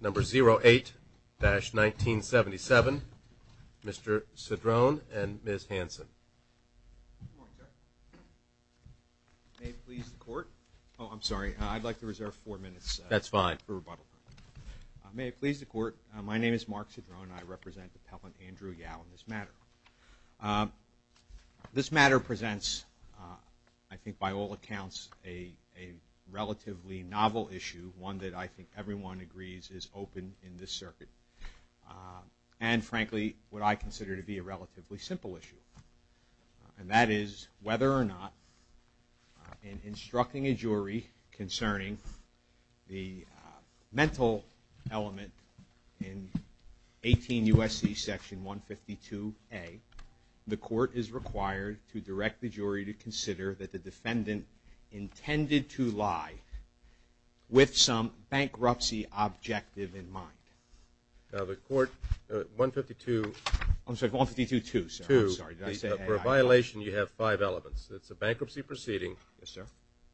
Number 08-1977, Mr. Cedrone and Ms. Hanson. Good morning, sir. May it please the court. Oh, I'm sorry. I'd like to reserve four minutes. That's fine. May it please the court. My name is Mark Cedrone and I represent Appellant Andrew Yao in this matter. This matter presents, I think by all accounts, a relatively novel issue, one that I think everyone agrees is open in this circuit, and frankly what I consider to be a relatively simple issue, and that is whether or not in instructing a jury concerning the mental element in 18 U.S.C. section 152a, the court is required to direct the jury to consider that the defendant intended to lie with some bankruptcy objective in mind. Now, the court, 152... I'm sorry, 152-2, sir. I'm sorry. Did I say that? For a violation, you have five elements. It's a bankruptcy proceeding. Yes, sir.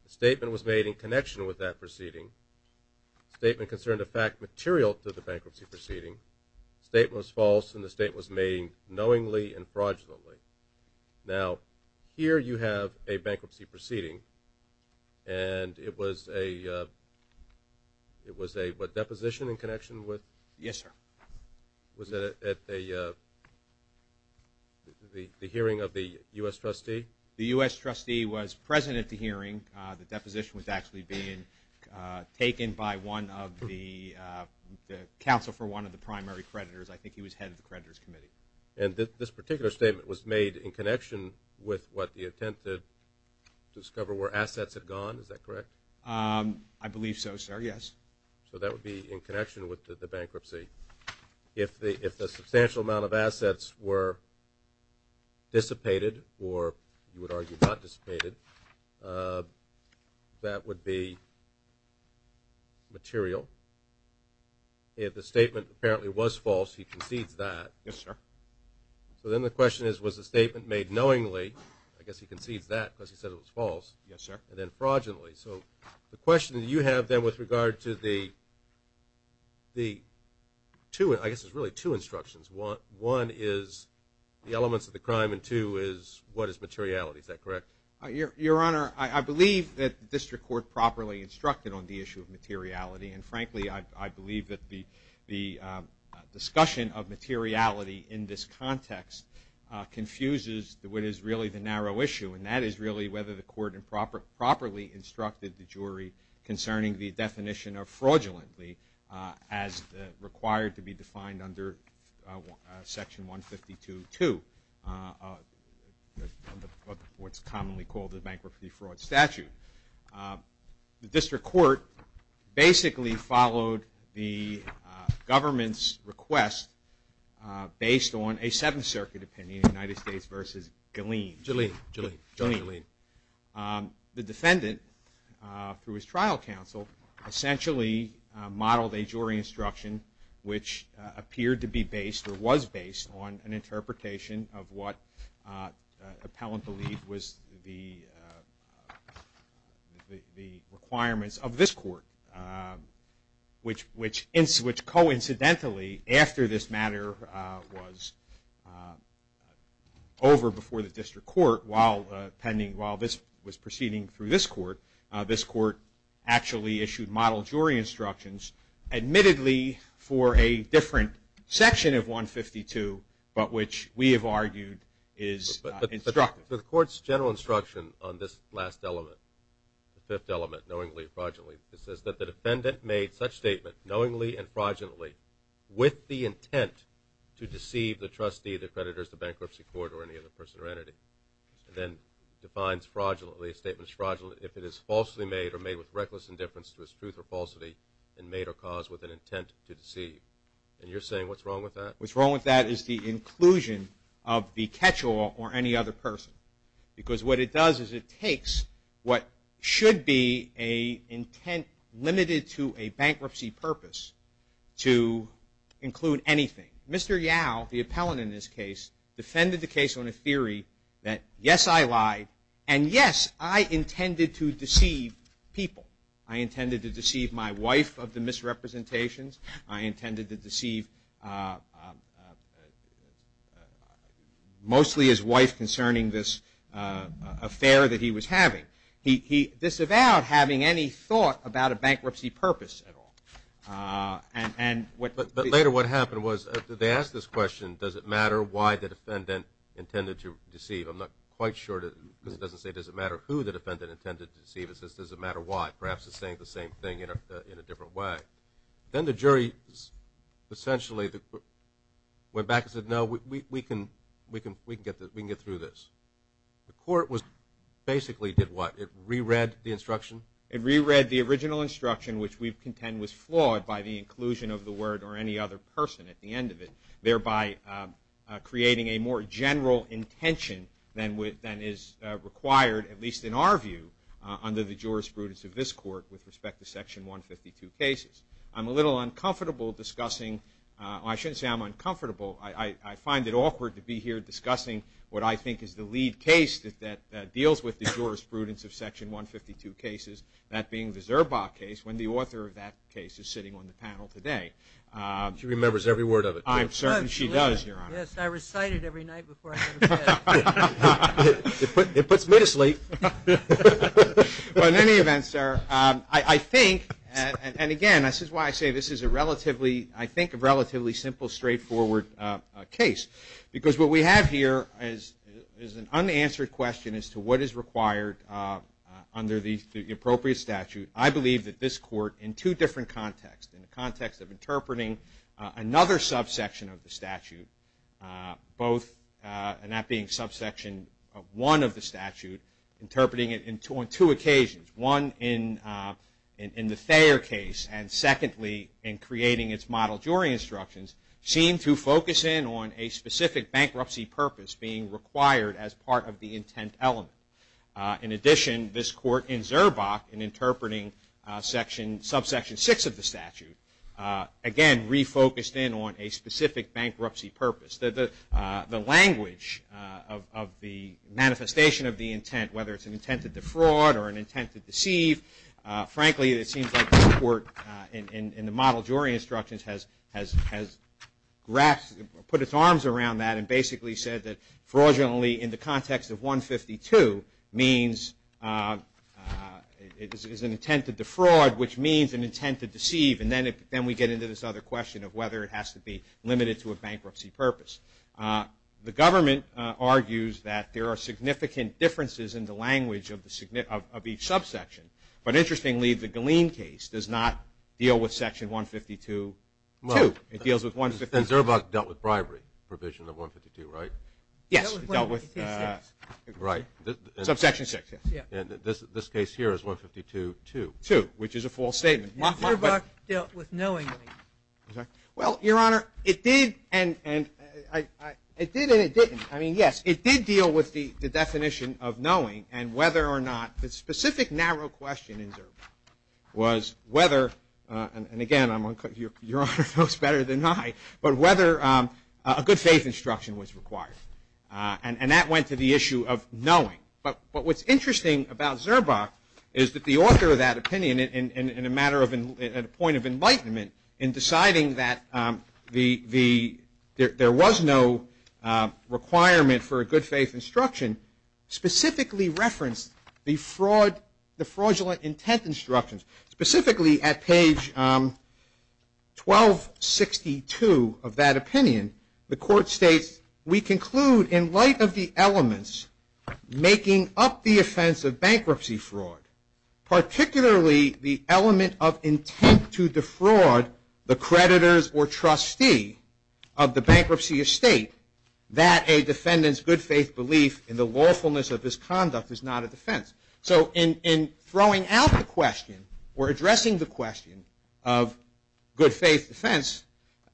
The statement was made in connection with that proceeding. The statement concerned a fact material to the bankruptcy proceeding. The statement was false and the statement was made knowingly and fraudulently. Now, here you have a bankruptcy proceeding and it was a deposition in connection with... Yes, sir. Was it at the hearing of the U.S. trustee? The U.S. trustee was present at the hearing. The deposition was actually being taken by one of the counsel for one of the primary creditors. I think he was head of the creditors committee. And this particular statement was made in connection with what the attempted to discover were assets had gone. Is that correct? I believe so, sir. Yes. So that would be in connection with the bankruptcy. If the substantial amount of assets were dissipated or you would argue not dissipated, that would be material. If the statement apparently was false, he concedes that. Yes, sir. So then the question is, was the statement made knowingly? I guess he concedes that because he said it was false. Yes, sir. And then fraudulently. So the question that you have then with regard to the two, I guess there's really two instructions. One is the elements of the crime and two is what is materiality. Is that correct? Your Honor, I believe that the district court properly instructed on the issue of materiality. And frankly, I believe that the discussion of materiality in this context confuses what is really the narrow issue, and that is really whether the court properly instructed the jury concerning the definition of fraudulently as required to be defined under Section 152.2, what's commonly called the bankruptcy fraud statute. The district court basically followed the government's request based on a Seventh Circuit opinion, United States v. Galeen. Galeen. The defendant, through his trial counsel, essentially modeled a jury instruction which appeared to be based or was based on an interpretation of what appellant believed was the requirements of this court, which coincidentally after this matter was over before the district court while this was proceeding through this court, actually issued model jury instructions admittedly for a different section of 152, but which we have argued is instructive. But the court's general instruction on this last element, the fifth element, knowingly and fraudulently, it says that the defendant made such statement knowingly and fraudulently with the intent to deceive the trustee, the creditors, the bankruptcy court, or any other person or entity. And then defines fraudulently, a statement is fraudulent if it is falsely made or made with reckless indifference to its truth or falsity and made or caused with an intent to deceive. And you're saying what's wrong with that? What's wrong with that is the inclusion of the catch-all or any other person. Because what it does is it takes what should be an intent limited to a bankruptcy purpose to include anything. Mr. Yao, the appellant in this case, defended the case on a theory that yes, I lied, and yes, I intended to deceive people. I intended to deceive my wife of the misrepresentations. I intended to deceive mostly his wife concerning this affair that he was having. He disavowed having any thought about a bankruptcy purpose at all. But later what happened was they asked this question, does it matter why the defendant intended to deceive? I'm not quite sure because it doesn't say, does it matter who the defendant intended to deceive? It says, does it matter why? Perhaps it's saying the same thing in a different way. Then the jury essentially went back and said, no, we can get through this. The court basically did what? It re-read the instruction? It re-read the original instruction, which we contend was flawed by the inclusion of the word or any other person at the end of it, thereby creating a more general intention than is required, at least in our view, under the jurisprudence of this court with respect to Section 152 cases. I'm a little uncomfortable discussing or I shouldn't say I'm uncomfortable. I find it awkward to be here discussing what I think is the lead case that deals with the jurisprudence of Section 152 cases, that being the Zerba case, when the author of that case is sitting on the panel today. She remembers every word of it. I'm certain she does, Your Honor. Yes, I recite it every night before I go to bed. It puts me to sleep. In any event, sir, I think, and again, this is why I say this is a relatively simple, straightforward case, because what we have here is an unanswered question as to what is required under the appropriate statute. I believe that this court, in two different contexts, in the context of interpreting another subsection of the statute, both that being subsection 1 of the statute, interpreting it on two occasions, one in the Thayer case and, secondly, in creating its model jury instructions, seemed to focus in on a specific bankruptcy purpose being required as part of the intent element. In addition, this court in Zerba, in interpreting subsection 6 of the statute, again refocused in on a specific bankruptcy purpose. The language of the manifestation of the intent, whether it's an intent to defraud or an intent to deceive, frankly, it seems like this court in the model jury instructions has put its arms around that and basically said that fraudulently in the context of 152 is an intent to defraud, which means an intent to deceive, and then we get into this other question of whether it has to be limited to a bankruptcy purpose. The government argues that there are significant differences in the language of each subsection, but interestingly, the Galeen case does not deal with section 152-2. It deals with 152-2. Zerba dealt with bribery provision of 152, right? Yes, it dealt with subsection 6. This case here is 152-2. Which is a false statement. Zerba dealt with knowingly. Well, Your Honor, it did and it didn't. I mean, yes, it did deal with the definition of knowing and whether or not the specific narrow question in Zerba was whether, and again, Your Honor knows better than I, but whether a good faith instruction was required. And that went to the issue of knowing. But what's interesting about Zerba is that the author of that opinion in a point of enlightenment in deciding that there was no requirement for a good faith instruction specifically referenced the fraudulent intent instructions. Specifically at page 1262 of that opinion, the court states, we conclude in light of the elements making up the offense of bankruptcy fraud, particularly the element of intent to defraud the creditors or trustee of the bankruptcy estate, that a defendant's good faith belief in the lawfulness of his conduct is not a defense. So in throwing out the question or addressing the question of good faith defense,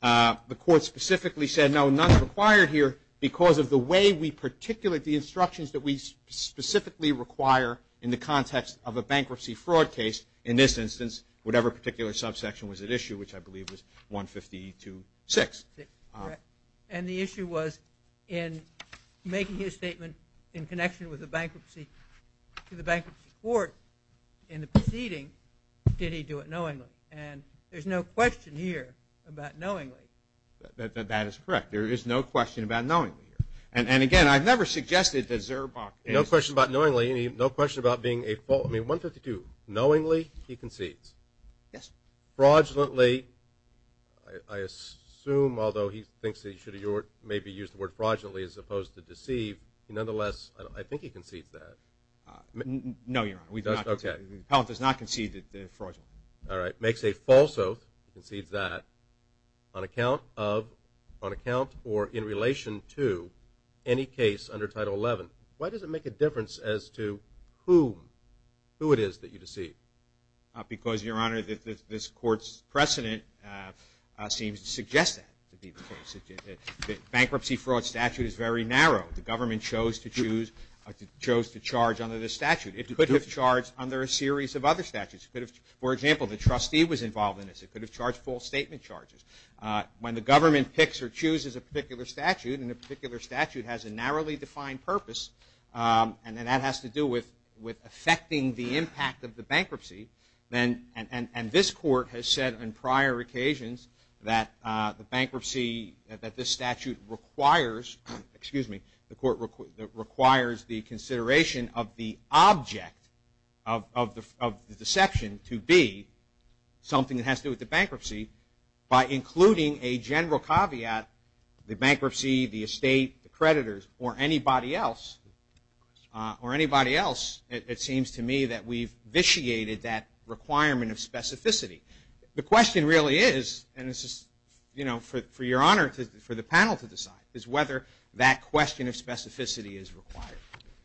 the court specifically said, no, none required here because of the way we particulate the instructions that we specifically require in the context of a bankruptcy fraud case. In this instance, whatever particular subsection was at issue, which I believe was 152.6. And the issue was in making his statement in connection with the bankruptcy court in the proceeding, did he do it knowingly? And there's no question here about knowingly. That is correct. There is no question about knowingly here. And, again, I've never suggested that Zerba is. No question about knowingly. No question about being a fault. I mean, 152. Knowingly, he concedes. Yes. Fraudulently, I assume, although he thinks that he should have maybe used the word fraudulently as opposed to deceive, nonetheless, I think he concedes that. No, Your Honor. He does not concede that fraudulently. All right. Makes a false oath. Concedes that on account of or in relation to any case under Title 11. Why does it make a difference as to who it is that you deceive? Because, Your Honor, this Court's precedent seems to suggest that. The bankruptcy fraud statute is very narrow. The government chose to charge under this statute. It could have charged under a series of other statutes. For example, the trustee was involved in this. It could have charged full statement charges. When the government picks or chooses a particular statute, and a particular statute has a narrowly defined purpose, and that has to do with affecting the impact of the bankruptcy, and this Court has said on prior occasions that the bankruptcy that this statute requires, the Court requires the consideration of the object of the deception to be something that has to do with the bankruptcy by including a general caveat, the bankruptcy, the estate, the creditors, or anybody else, it seems to me that we've vitiated that requirement of specificity. The question really is, and this is for Your Honor, for the panel to decide, is whether that question of specificity is required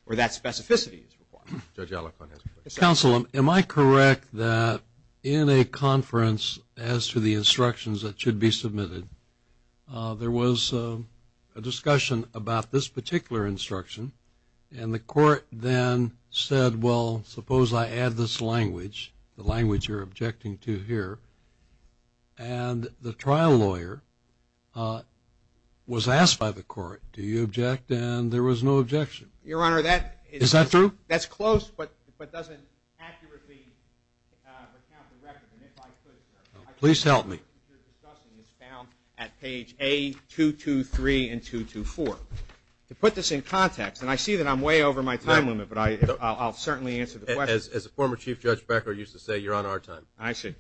or that specificity is required. Judge Alicorn has a question. Counsel, am I correct that in a conference as to the instructions that should be submitted, there was a discussion about this particular instruction, and the Court then said, well, suppose I add this language, the language you're objecting to here, and the trial lawyer was asked by the Court, do you object? And there was no objection. Your Honor, that is close but doesn't accurately recount the record, and if I could, please help me, it's found at page A223 and 224. To put this in context, and I see that I'm way over my time limit, but I'll certainly answer the question. As the former Chief Judge Becker used to say, you're on our time. I see.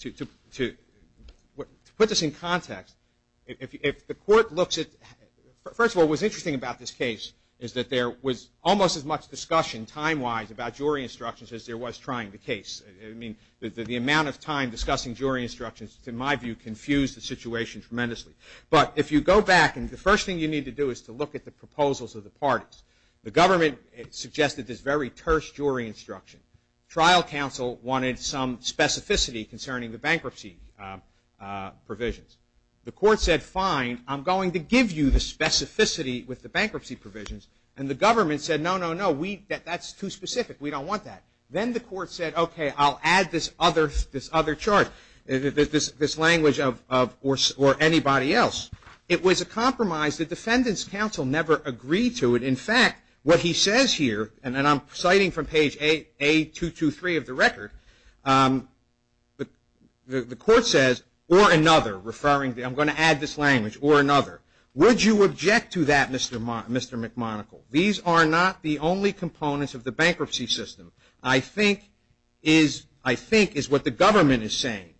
To put this in context, if the Court looks at, first of all, what's interesting about this case is that there was almost as much discussion time-wise about jury instructions as there was trying the case. I mean, the amount of time discussing jury instructions, in my view, confused the situation tremendously. But if you go back, and the first thing you need to do is to look at the proposals of the parties. The government suggested this very terse jury instruction. Trial counsel wanted some specificity concerning the bankruptcy provisions. The Court said, fine, I'm going to give you the specificity with the bankruptcy provisions, and the government said, no, no, no, that's too specific. We don't want that. Then the Court said, okay, I'll add this other chart, this language of or anybody else. It was a compromise. The defendant's counsel never agreed to it. In fact, what he says here, and I'm citing from page A223 of the record, the Court says, or another, referring to, I'm going to add this language, or another. Would you object to that, Mr. McMonagle? These are not the only components of the bankruptcy system. I think is what the government is saying.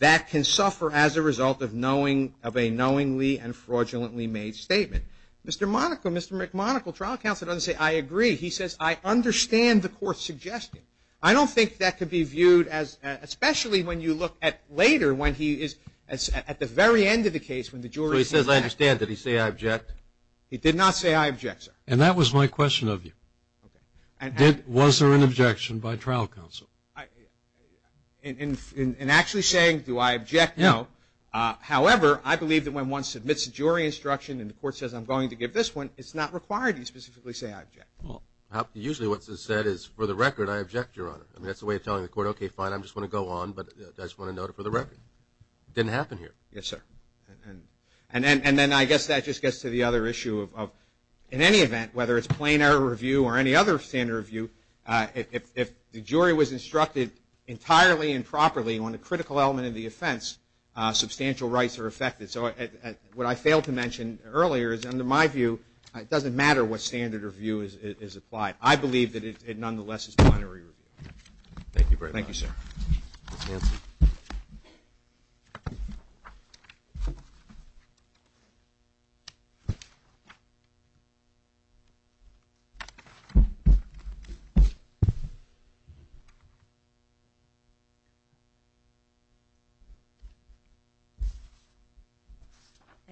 That can suffer as a result of a knowingly and fraudulently made statement. Mr. Monaco, Mr. McMonagle, trial counsel doesn't say, I agree. He says, I understand the Court's suggestion. I don't think that could be viewed as, especially when you look at later, when he is at the very end of the case. So he says, I understand. Did he say, I object? He did not say, I object, sir. And that was my question of you. Was there an objection by trial counsel? In actually saying, do I object? No. However, I believe that when one submits a jury instruction and the Court says, I'm going to give this one, it's not required to specifically say, I object. Usually what's said is, for the record, I object, Your Honor. That's the way of telling the Court, okay, fine, I just want to go on, but I just want to note it for the record. It didn't happen here. Yes, sir. And then I guess that just gets to the other issue of, in any event, whether it's plain error review or any other standard review, if the jury was instructed entirely and properly on a critical element of the offense, substantial rights are affected. So what I failed to mention earlier is, under my view, it doesn't matter what standard review is applied. I believe that it nonetheless is plain error review. Thank you, sir. Ms. Hanson.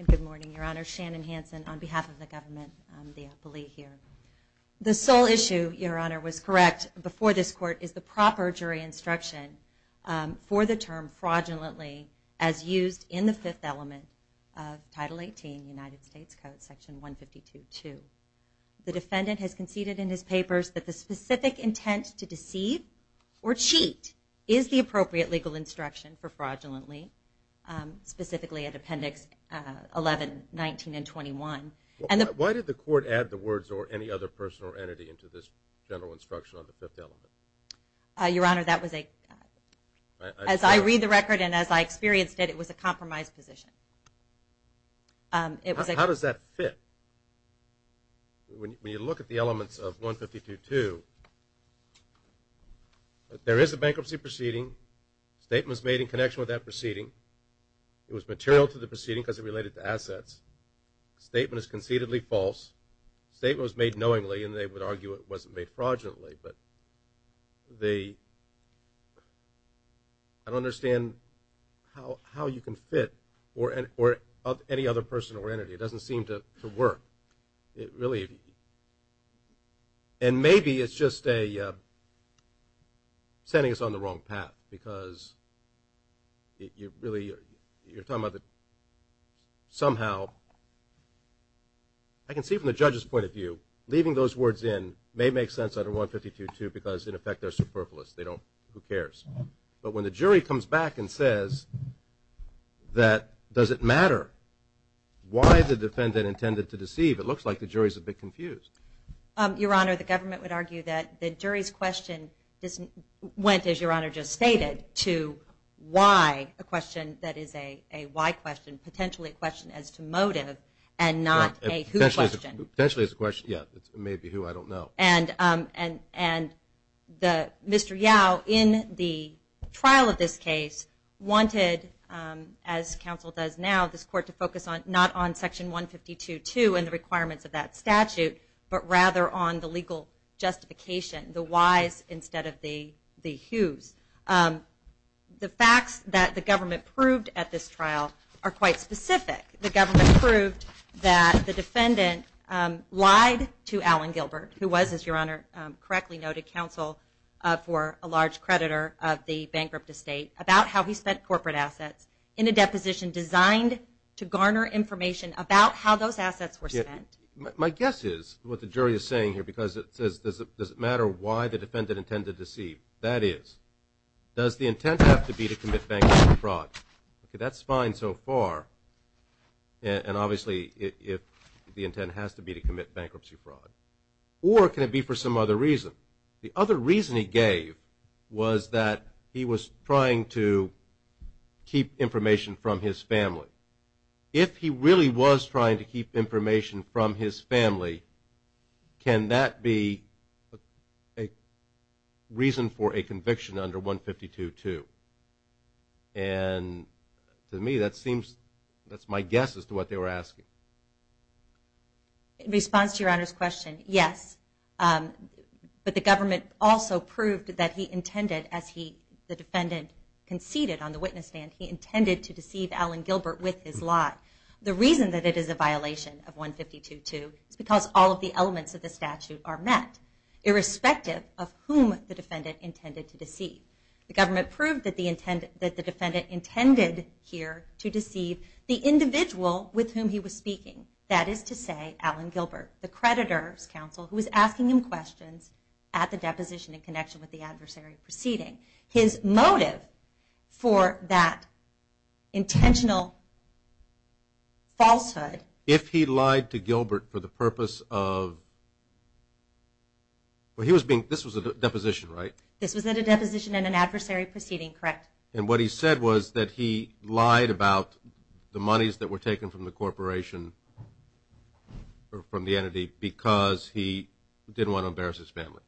Good morning, Your Honor. Shannon Hanson on behalf of the government. I'm the appellee here. The sole issue, Your Honor, was correct before this Court, is the proper jury instruction for the term fraudulently, as used in the fifth element of Title 18, United States Code, Section 152.2. The defendant has conceded in his papers that the specific intent to deceive or cheat is the appropriate legal instruction for fraudulently, specifically at Appendix 11, 19, and 21. Why did the Court add the words, or any other person or entity, into this general instruction on the fifth element? Your Honor, that was a... As I read the record and as I experienced it, it was a compromised position. How does that fit? When you look at the elements of 152.2, there is a bankruptcy proceeding. Statement was made in connection with that proceeding. It was material to the proceeding because it related to assets. Statement is concededly false. Statement was made knowingly, and they would argue it wasn't made fraudulently. I don't understand how you can fit, or any other person or entity. It doesn't seem to work. And maybe it's just sending us on the wrong path, because you're talking about that somehow... I can see from the judge's point of view, leaving those words in may make sense under 152.2 because, in effect, they're superfluous. Who cares? But when the jury comes back and says, does it matter why the defendant intended to deceive, it looks like the jury's a bit confused. Your Honor, the government would argue that the jury's question went, as Your Honor just stated, to why a question that is a why question, potentially a question as to motive, and not a who question. Potentially is a question, yeah. It may be who, I don't know. Mr. Yao, in the trial of this case, wanted, as counsel does now, this court to focus not on Section 152.2 and the requirements of that statute, but rather on the legal justification, the whys instead of the whos. The facts that the government proved at this trial are quite specific. The government proved that the defendant lied to Alan Gilbert, who was, as Your Honor correctly noted, counsel for a large creditor of the bankrupt estate, about how he spent corporate assets in a deposition designed to garner information about how those assets were spent. My guess is, what the jury is saying here, because it says, does it matter why the defendant intended to deceive? That is, does the intent have to be to commit bankruptcy fraud? That's fine so far, and obviously the intent has to be to commit bankruptcy fraud. Or can it be for some other reason? The other reason he gave was that he was trying to keep information from his family. If he really was trying to keep information from his family, can that be a reason for a conviction under 152.2? To me, that's my guess as to what they were asking. In response to Your Honor's question, yes. But the government also proved that he intended, as the defendant conceded on the witness stand, he intended to deceive Alan Gilbert with his lie. The reason that it is a violation of 152.2 is because all of the elements of the statute are met, irrespective of whom the defendant intended to deceive. The government proved that the defendant intended here to deceive the individual with whom he was speaking. That is to say, Alan Gilbert, the creditor's counsel, who was asking him questions at the deposition in connection with the adversary proceeding. His motive for that intentional falsehood... If he lied to Gilbert for the purpose of... Well, this was a deposition, right? This was at a deposition in an adversary proceeding, correct. And what he said was that he lied about the monies that were taken from the corporation, from the entity, because he didn't want to embarrass his family.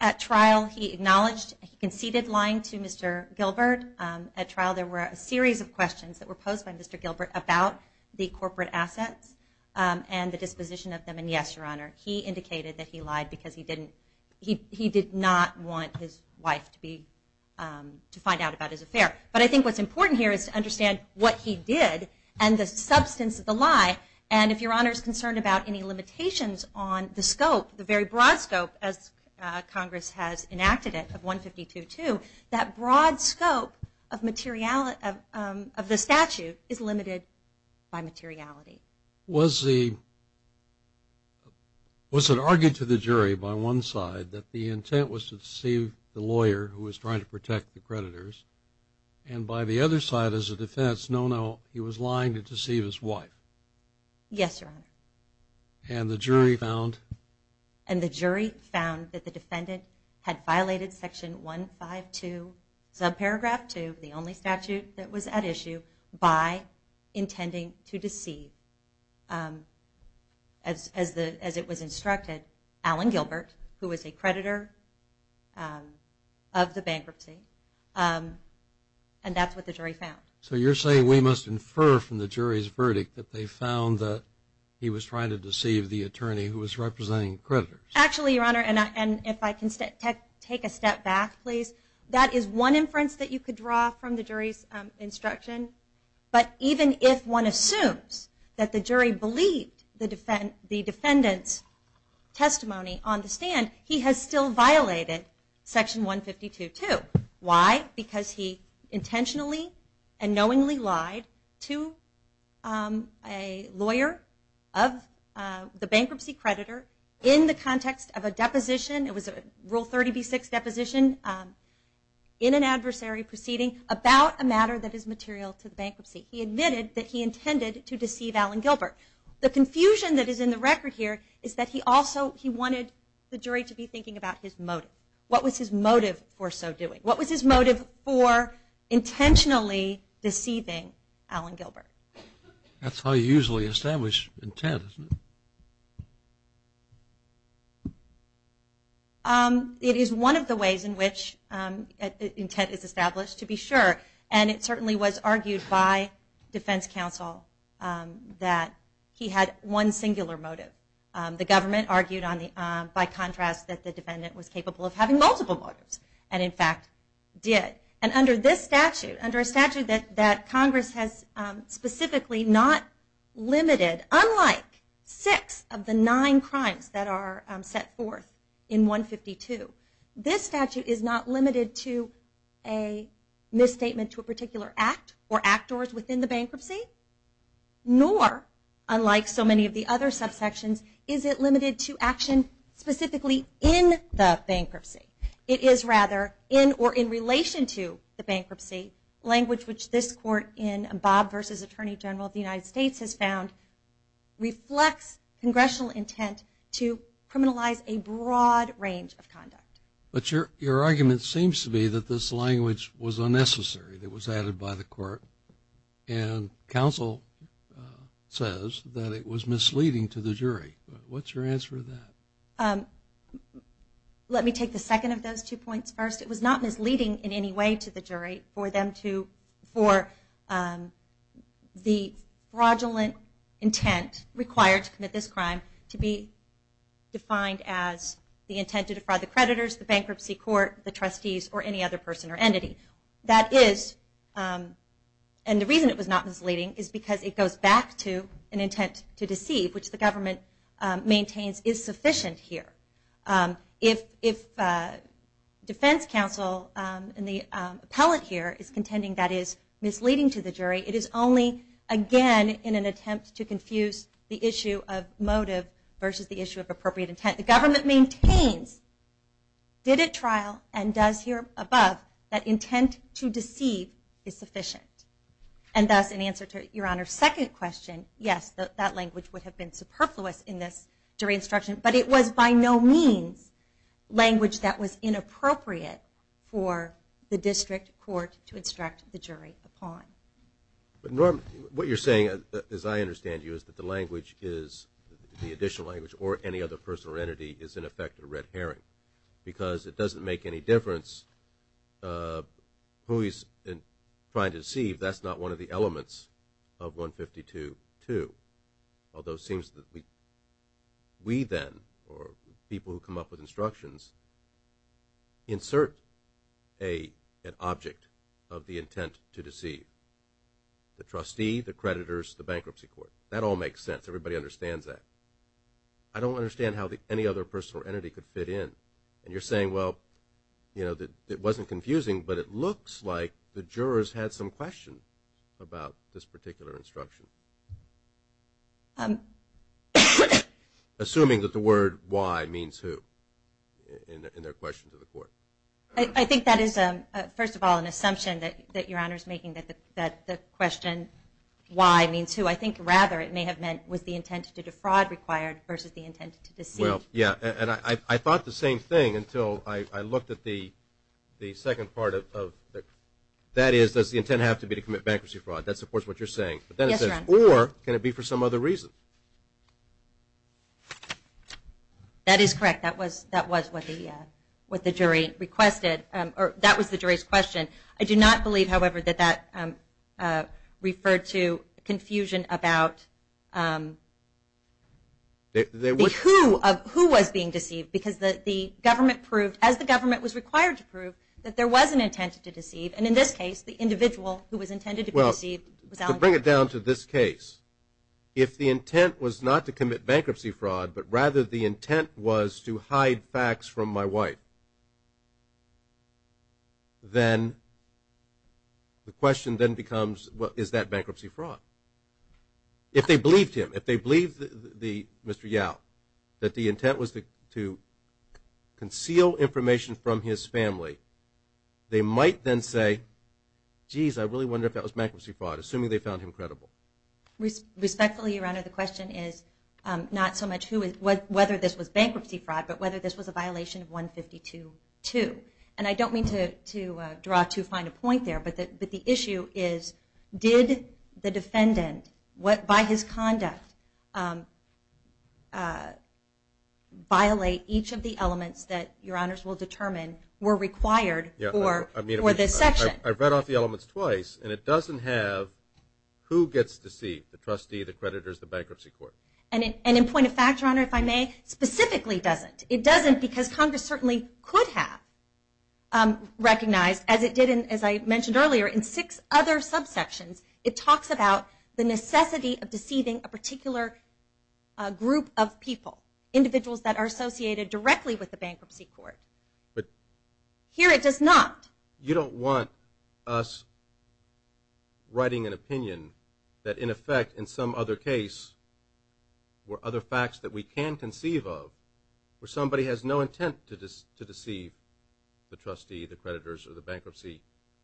At trial, he acknowledged, he conceded lying to Mr. Gilbert. At trial, there were a series of questions that were posed by Mr. Gilbert about the corporate assets and the disposition of them. And yes, Your Honor, he indicated that he lied because he did not want his wife to find out about his affair. But I think what's important here is to understand what he did and the substance of the lie. And if Your Honor is concerned about any limitations on the scope, the very broad scope, as Congress has enacted it, of 152-2, that broad scope of the statute is limited by materiality. Was it argued to the jury by one side that the intent was to deceive the lawyer who was trying to protect the creditors, and by the other side as a defense, no, no, he was lying to deceive his wife? Yes, Your Honor. And the jury found? And the jury found that the defendant had violated Section 152, subparagraph 2, the only statute that was at issue, by intending to deceive, as it was instructed, Alan Gilbert, who was a creditor of the bankruptcy. And that's what the jury found. So you're saying we must infer from the jury's verdict that they found that he was trying to deceive the attorney who was representing creditors? Actually, Your Honor, and if I can take a step back, please, that is one inference that you could draw from the jury's instruction. But even if one assumes that the jury believed the defendant's testimony on the stand, he has still violated Section 152-2. Why? Because he intentionally and knowingly lied to a lawyer of the bankruptcy creditor in the context of a deposition, it was a Rule 30b-6 deposition, in an adversary proceeding about a matter that is material to the bankruptcy. He admitted that he intended to deceive Alan Gilbert. The confusion that is in the record here is that he also, he wanted the jury to be thinking about his motive. What was his motive for so doing? What was his motive for intentionally deceiving Alan Gilbert? That's how you usually establish intent, isn't it? It is one of the ways in which intent is established, to be sure. And it certainly was argued by defense counsel that he had one singular motive. The government argued by contrast that the defendant was capable of having multiple motives, and in fact did. And under this statute, under a statute that Congress has specifically not limited, unlike six of the nine crimes that are set forth in 152, this statute is not limited to a misstatement to a particular act or actors within the bankruptcy, nor, unlike so many of the other subsections, is it limited to action specifically in the bankruptcy. It is rather in or in relation to the bankruptcy, language which this court in Bob v. Attorney General of the United States has found reflects congressional intent to criminalize a broad range of conduct. But your argument seems to be that this language was unnecessary, that it was added by the court, and counsel says that it was misleading to the jury. What's your answer to that? Let me take the second of those two points first. It was not misleading in any way to the jury for them to, for the fraudulent intent required to commit this crime to be defined as the intent to defraud the creditors, the bankruptcy court, the trustees, or any other person or entity. That is, and the reason it was not misleading is because it goes back to an intent to deceive, which the government maintains is sufficient here. If defense counsel and the appellate here is contending that it is misleading to the jury, it is only, again, in an attempt to confuse the issue of motive versus the issue of appropriate intent. The government maintains, did at trial, and does here above, that intent to deceive is sufficient, and thus, in answer to Your Honor's second question, yes, that language would have been superfluous in this jury instruction, but it was by no means language that was inappropriate for the district court to instruct the jury upon. Norm, what you're saying, as I understand you, is that the language is, the additional language, or any other person or entity is, in effect, a red herring because it doesn't make any difference who he's trying to deceive that's not one of the elements of 152.2, although it seems that we then, or people who come up with instructions, insert an object of the intent to deceive. The trustee, the creditors, the bankruptcy court. That all makes sense. Everybody understands that. I don't understand how any other person or entity could fit in. And you're saying, well, it wasn't confusing, but it looks like the jurors had some question about this particular instruction. Assuming that the word why means who, in their question to the court. I think that is, first of all, an assumption that Your Honor's making, that the question why means who. I think, rather, it may have meant, was the intent to defraud required versus the intent to deceive? Well, yeah, and I thought the same thing until I looked at the second part of that. That is, does the intent have to be to commit bankruptcy fraud? That supports what you're saying. Yes, Your Honor. Or can it be for some other reason? That is correct. That was what the jury requested. That was the jury's question. I do not believe, however, that that referred to confusion about who was being deceived, because the government proved, as the government was required to prove, that there was an intent to deceive. And in this case, the individual who was intended to be deceived was Alexander. Well, to bring it down to this case, if the intent was not to commit bankruptcy fraud, but rather the intent was to hide facts from my wife, then the question then becomes, well, is that bankruptcy fraud? If they believed him, if they believed Mr. Yao, that the intent was to conceal information from his family, they might then say, geez, I really wonder if that was bankruptcy fraud, assuming they found him credible. Respectfully, Your Honor, the question is not so much whether this was bankruptcy fraud, but whether this was a violation of 152.2. And I don't mean to draw to find a point there, but the issue is did the defendant, by his conduct, violate each of the elements that Your Honors will determine were required for this section? I've read off the elements twice, and it doesn't have who gets deceived, the trustee, the creditors, the bankruptcy court. And in point of fact, Your Honor, if I may, specifically doesn't. It doesn't because Congress certainly could have recognized, as it did, as I mentioned earlier, in six other subsections, it talks about the necessity of deceiving a particular group of people, individuals that are associated directly with the bankruptcy court. Here it does not. You don't want us writing an opinion that, in effect, in some other case were other facts that we can conceive of where somebody has no intent to deceive the trustee, the creditors, or the bankruptcy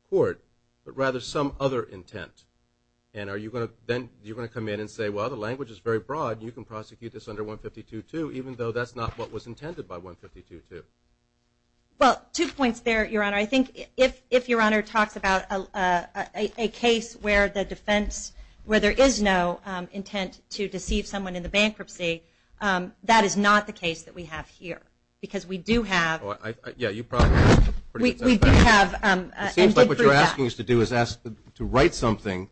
court, but rather some other intent. And then you're going to come in and say, well, the language is very broad. You can prosecute this under 152.2, even though that's not what was intended by 152.2. Well, two points there, Your Honor. I think if Your Honor talks about a case where the defense, where there is no intent to deceive someone in the bankruptcy, that is not the case that we have here. Because we do have- Yeah, you probably- We do have- It seems like what you're asking us to do is to write something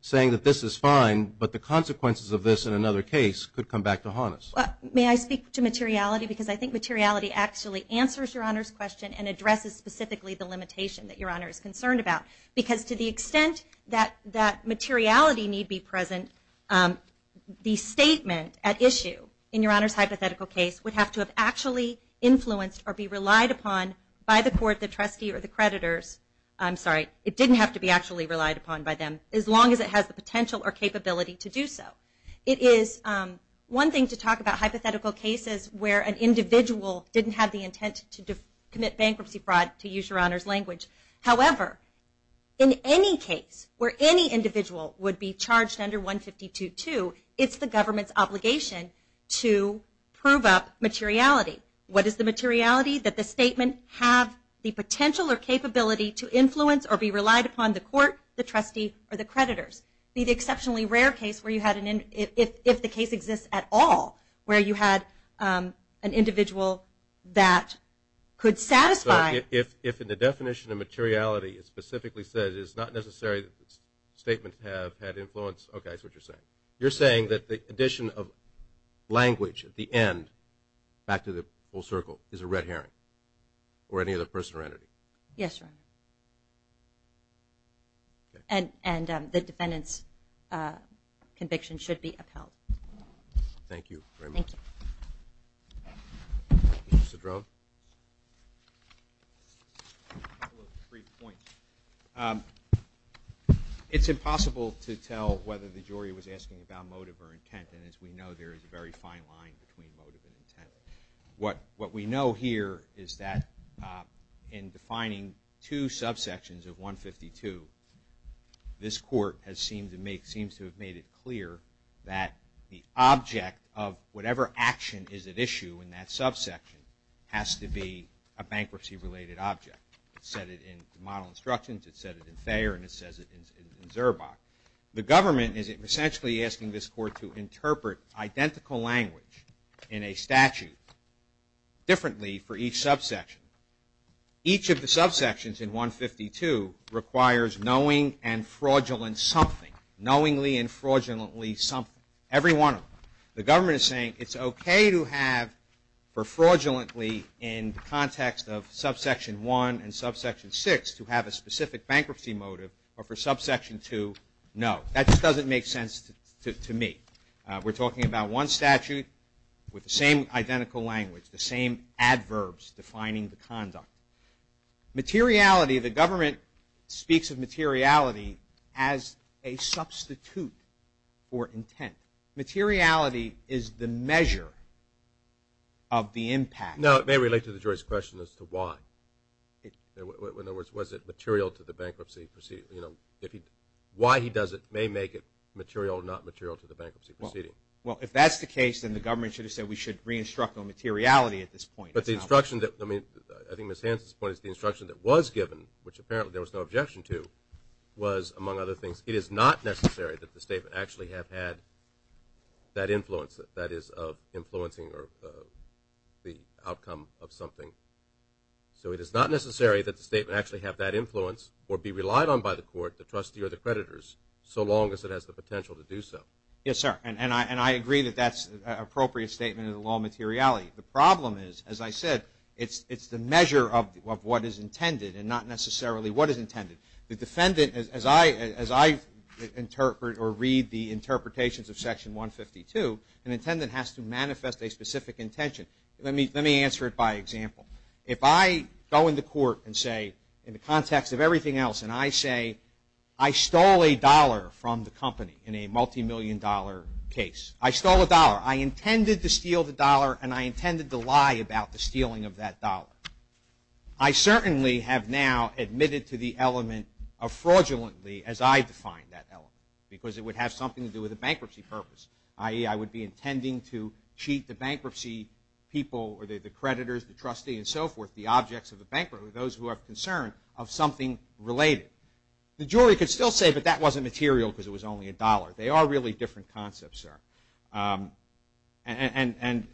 saying that this is fine, but the consequences of this in another case could come back to haunt us. May I speak to materiality? Because I think materiality actually answers Your Honor's question and addresses specifically the limitation that Your Honor is concerned about. Because to the extent that materiality need be present, the statement at issue in Your Honor's hypothetical case would have to have actually influenced or be relied upon by the court, the trustee, or the creditors. I'm sorry, it didn't have to be actually relied upon by them, as long as it has the potential or capability to do so. It is one thing to talk about hypothetical cases where an individual didn't have the intent to commit bankruptcy fraud, to use Your Honor's language. However, in any case where any individual would be charged under 152.2, it's the government's obligation to prove up materiality. What is the materiality? That the statement have the potential or capability to influence or be relied upon the court, the trustee, or the creditors. Be the exceptionally rare case where you had an- if the case exists at all, where you had an individual that could satisfy- So if in the definition of materiality it specifically says it's not necessary that the statement have had influence, okay, that's what you're saying. You're saying that the addition of language at the end, back to the full circle, is a red herring, or any other person or entity. Yes, Your Honor. And the defendant's conviction should be upheld. Thank you very much. Thank you. Mr. Drum. A couple of brief points. It's impossible to tell whether the jury was asking about motive or intent, and as we know there is a very fine line between motive and intent. What we know here is that in defining two subsections of 152, this court has seemed to make- seems to have made it clear that the object of whatever action is at issue in that subsection has to be a bankruptcy-related object. It said it in the model instructions, it said it in Thayer, and it says it in Zurbach. The government is essentially asking this court to interpret identical language in a statute differently for each subsection. Each of the subsections in 152 requires knowing and fraudulent something, knowingly and fraudulently something, every one of them. The government is saying it's okay to have for fraudulently in the context of subsection 1 and subsection 6 to have a specific bankruptcy motive, but for subsection 2, no. That just doesn't make sense to me. We're talking about one statute with the same identical language, the same adverbs defining the conduct. Materiality, the government speaks of materiality as a substitute for intent. Materiality is the measure of the impact. No, it may relate to the jury's question as to why. In other words, was it material to the bankruptcy proceeding? You know, why he does it may make it material or not material to the bankruptcy proceeding. Well, if that's the case, then the government should have said we should re-instruct on materiality at this point. But the instruction that- I mean, I think Ms. Hansen's point is the instruction that was given, which apparently there was no objection to, was, among other things, it is not necessary that the statement actually have had that influence, that is of influencing the outcome of something. So it is not necessary that the statement actually have that influence or be relied on by the court, the trustee, or the creditors, so long as it has the potential to do so. Yes, sir. And I agree that that's an appropriate statement of the law of materiality. The problem is, as I said, it's the measure of what is intended and not necessarily what is intended. The defendant, as I interpret or read the interpretations of Section 152, an intendant has to manifest a specific intention. Let me answer it by example. If I go into court and say, in the context of everything else, and I say, I stole a dollar from the company in a multimillion-dollar case. I stole a dollar. I intended to steal the dollar, and I intended to lie about the stealing of that dollar. I certainly have now admitted to the element of fraudulently, as I define that element, because it would have something to do with a bankruptcy purpose, i.e., I would be intending to cheat the bankruptcy people or the creditors, the trustee, and so forth, the objects of the bank, or those who are concerned, of something related. The jury could still say, but that wasn't material because it was only a dollar. They are really different concepts, sir. And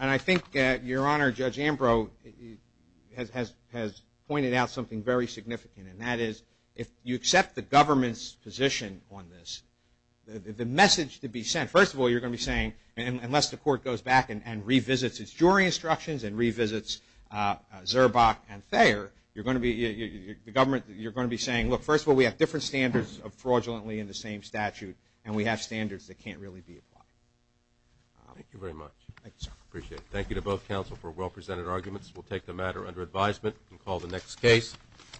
I think, Your Honor, Judge Ambrose has pointed out something very significant, and that is if you accept the government's position on this, the message to be sent, first of all, you're going to be saying, unless the court goes back and revisits its jury instructions and revisits Zurbach and Thayer, you're going to be saying, look, first of all, we have different standards of fraudulently in the same statute, and we have standards that can't really be applied. Thank you very much. Thank you, sir. I appreciate it. Thank you to both counsel for well-presented arguments. We'll take the matter under advisement and call the next case.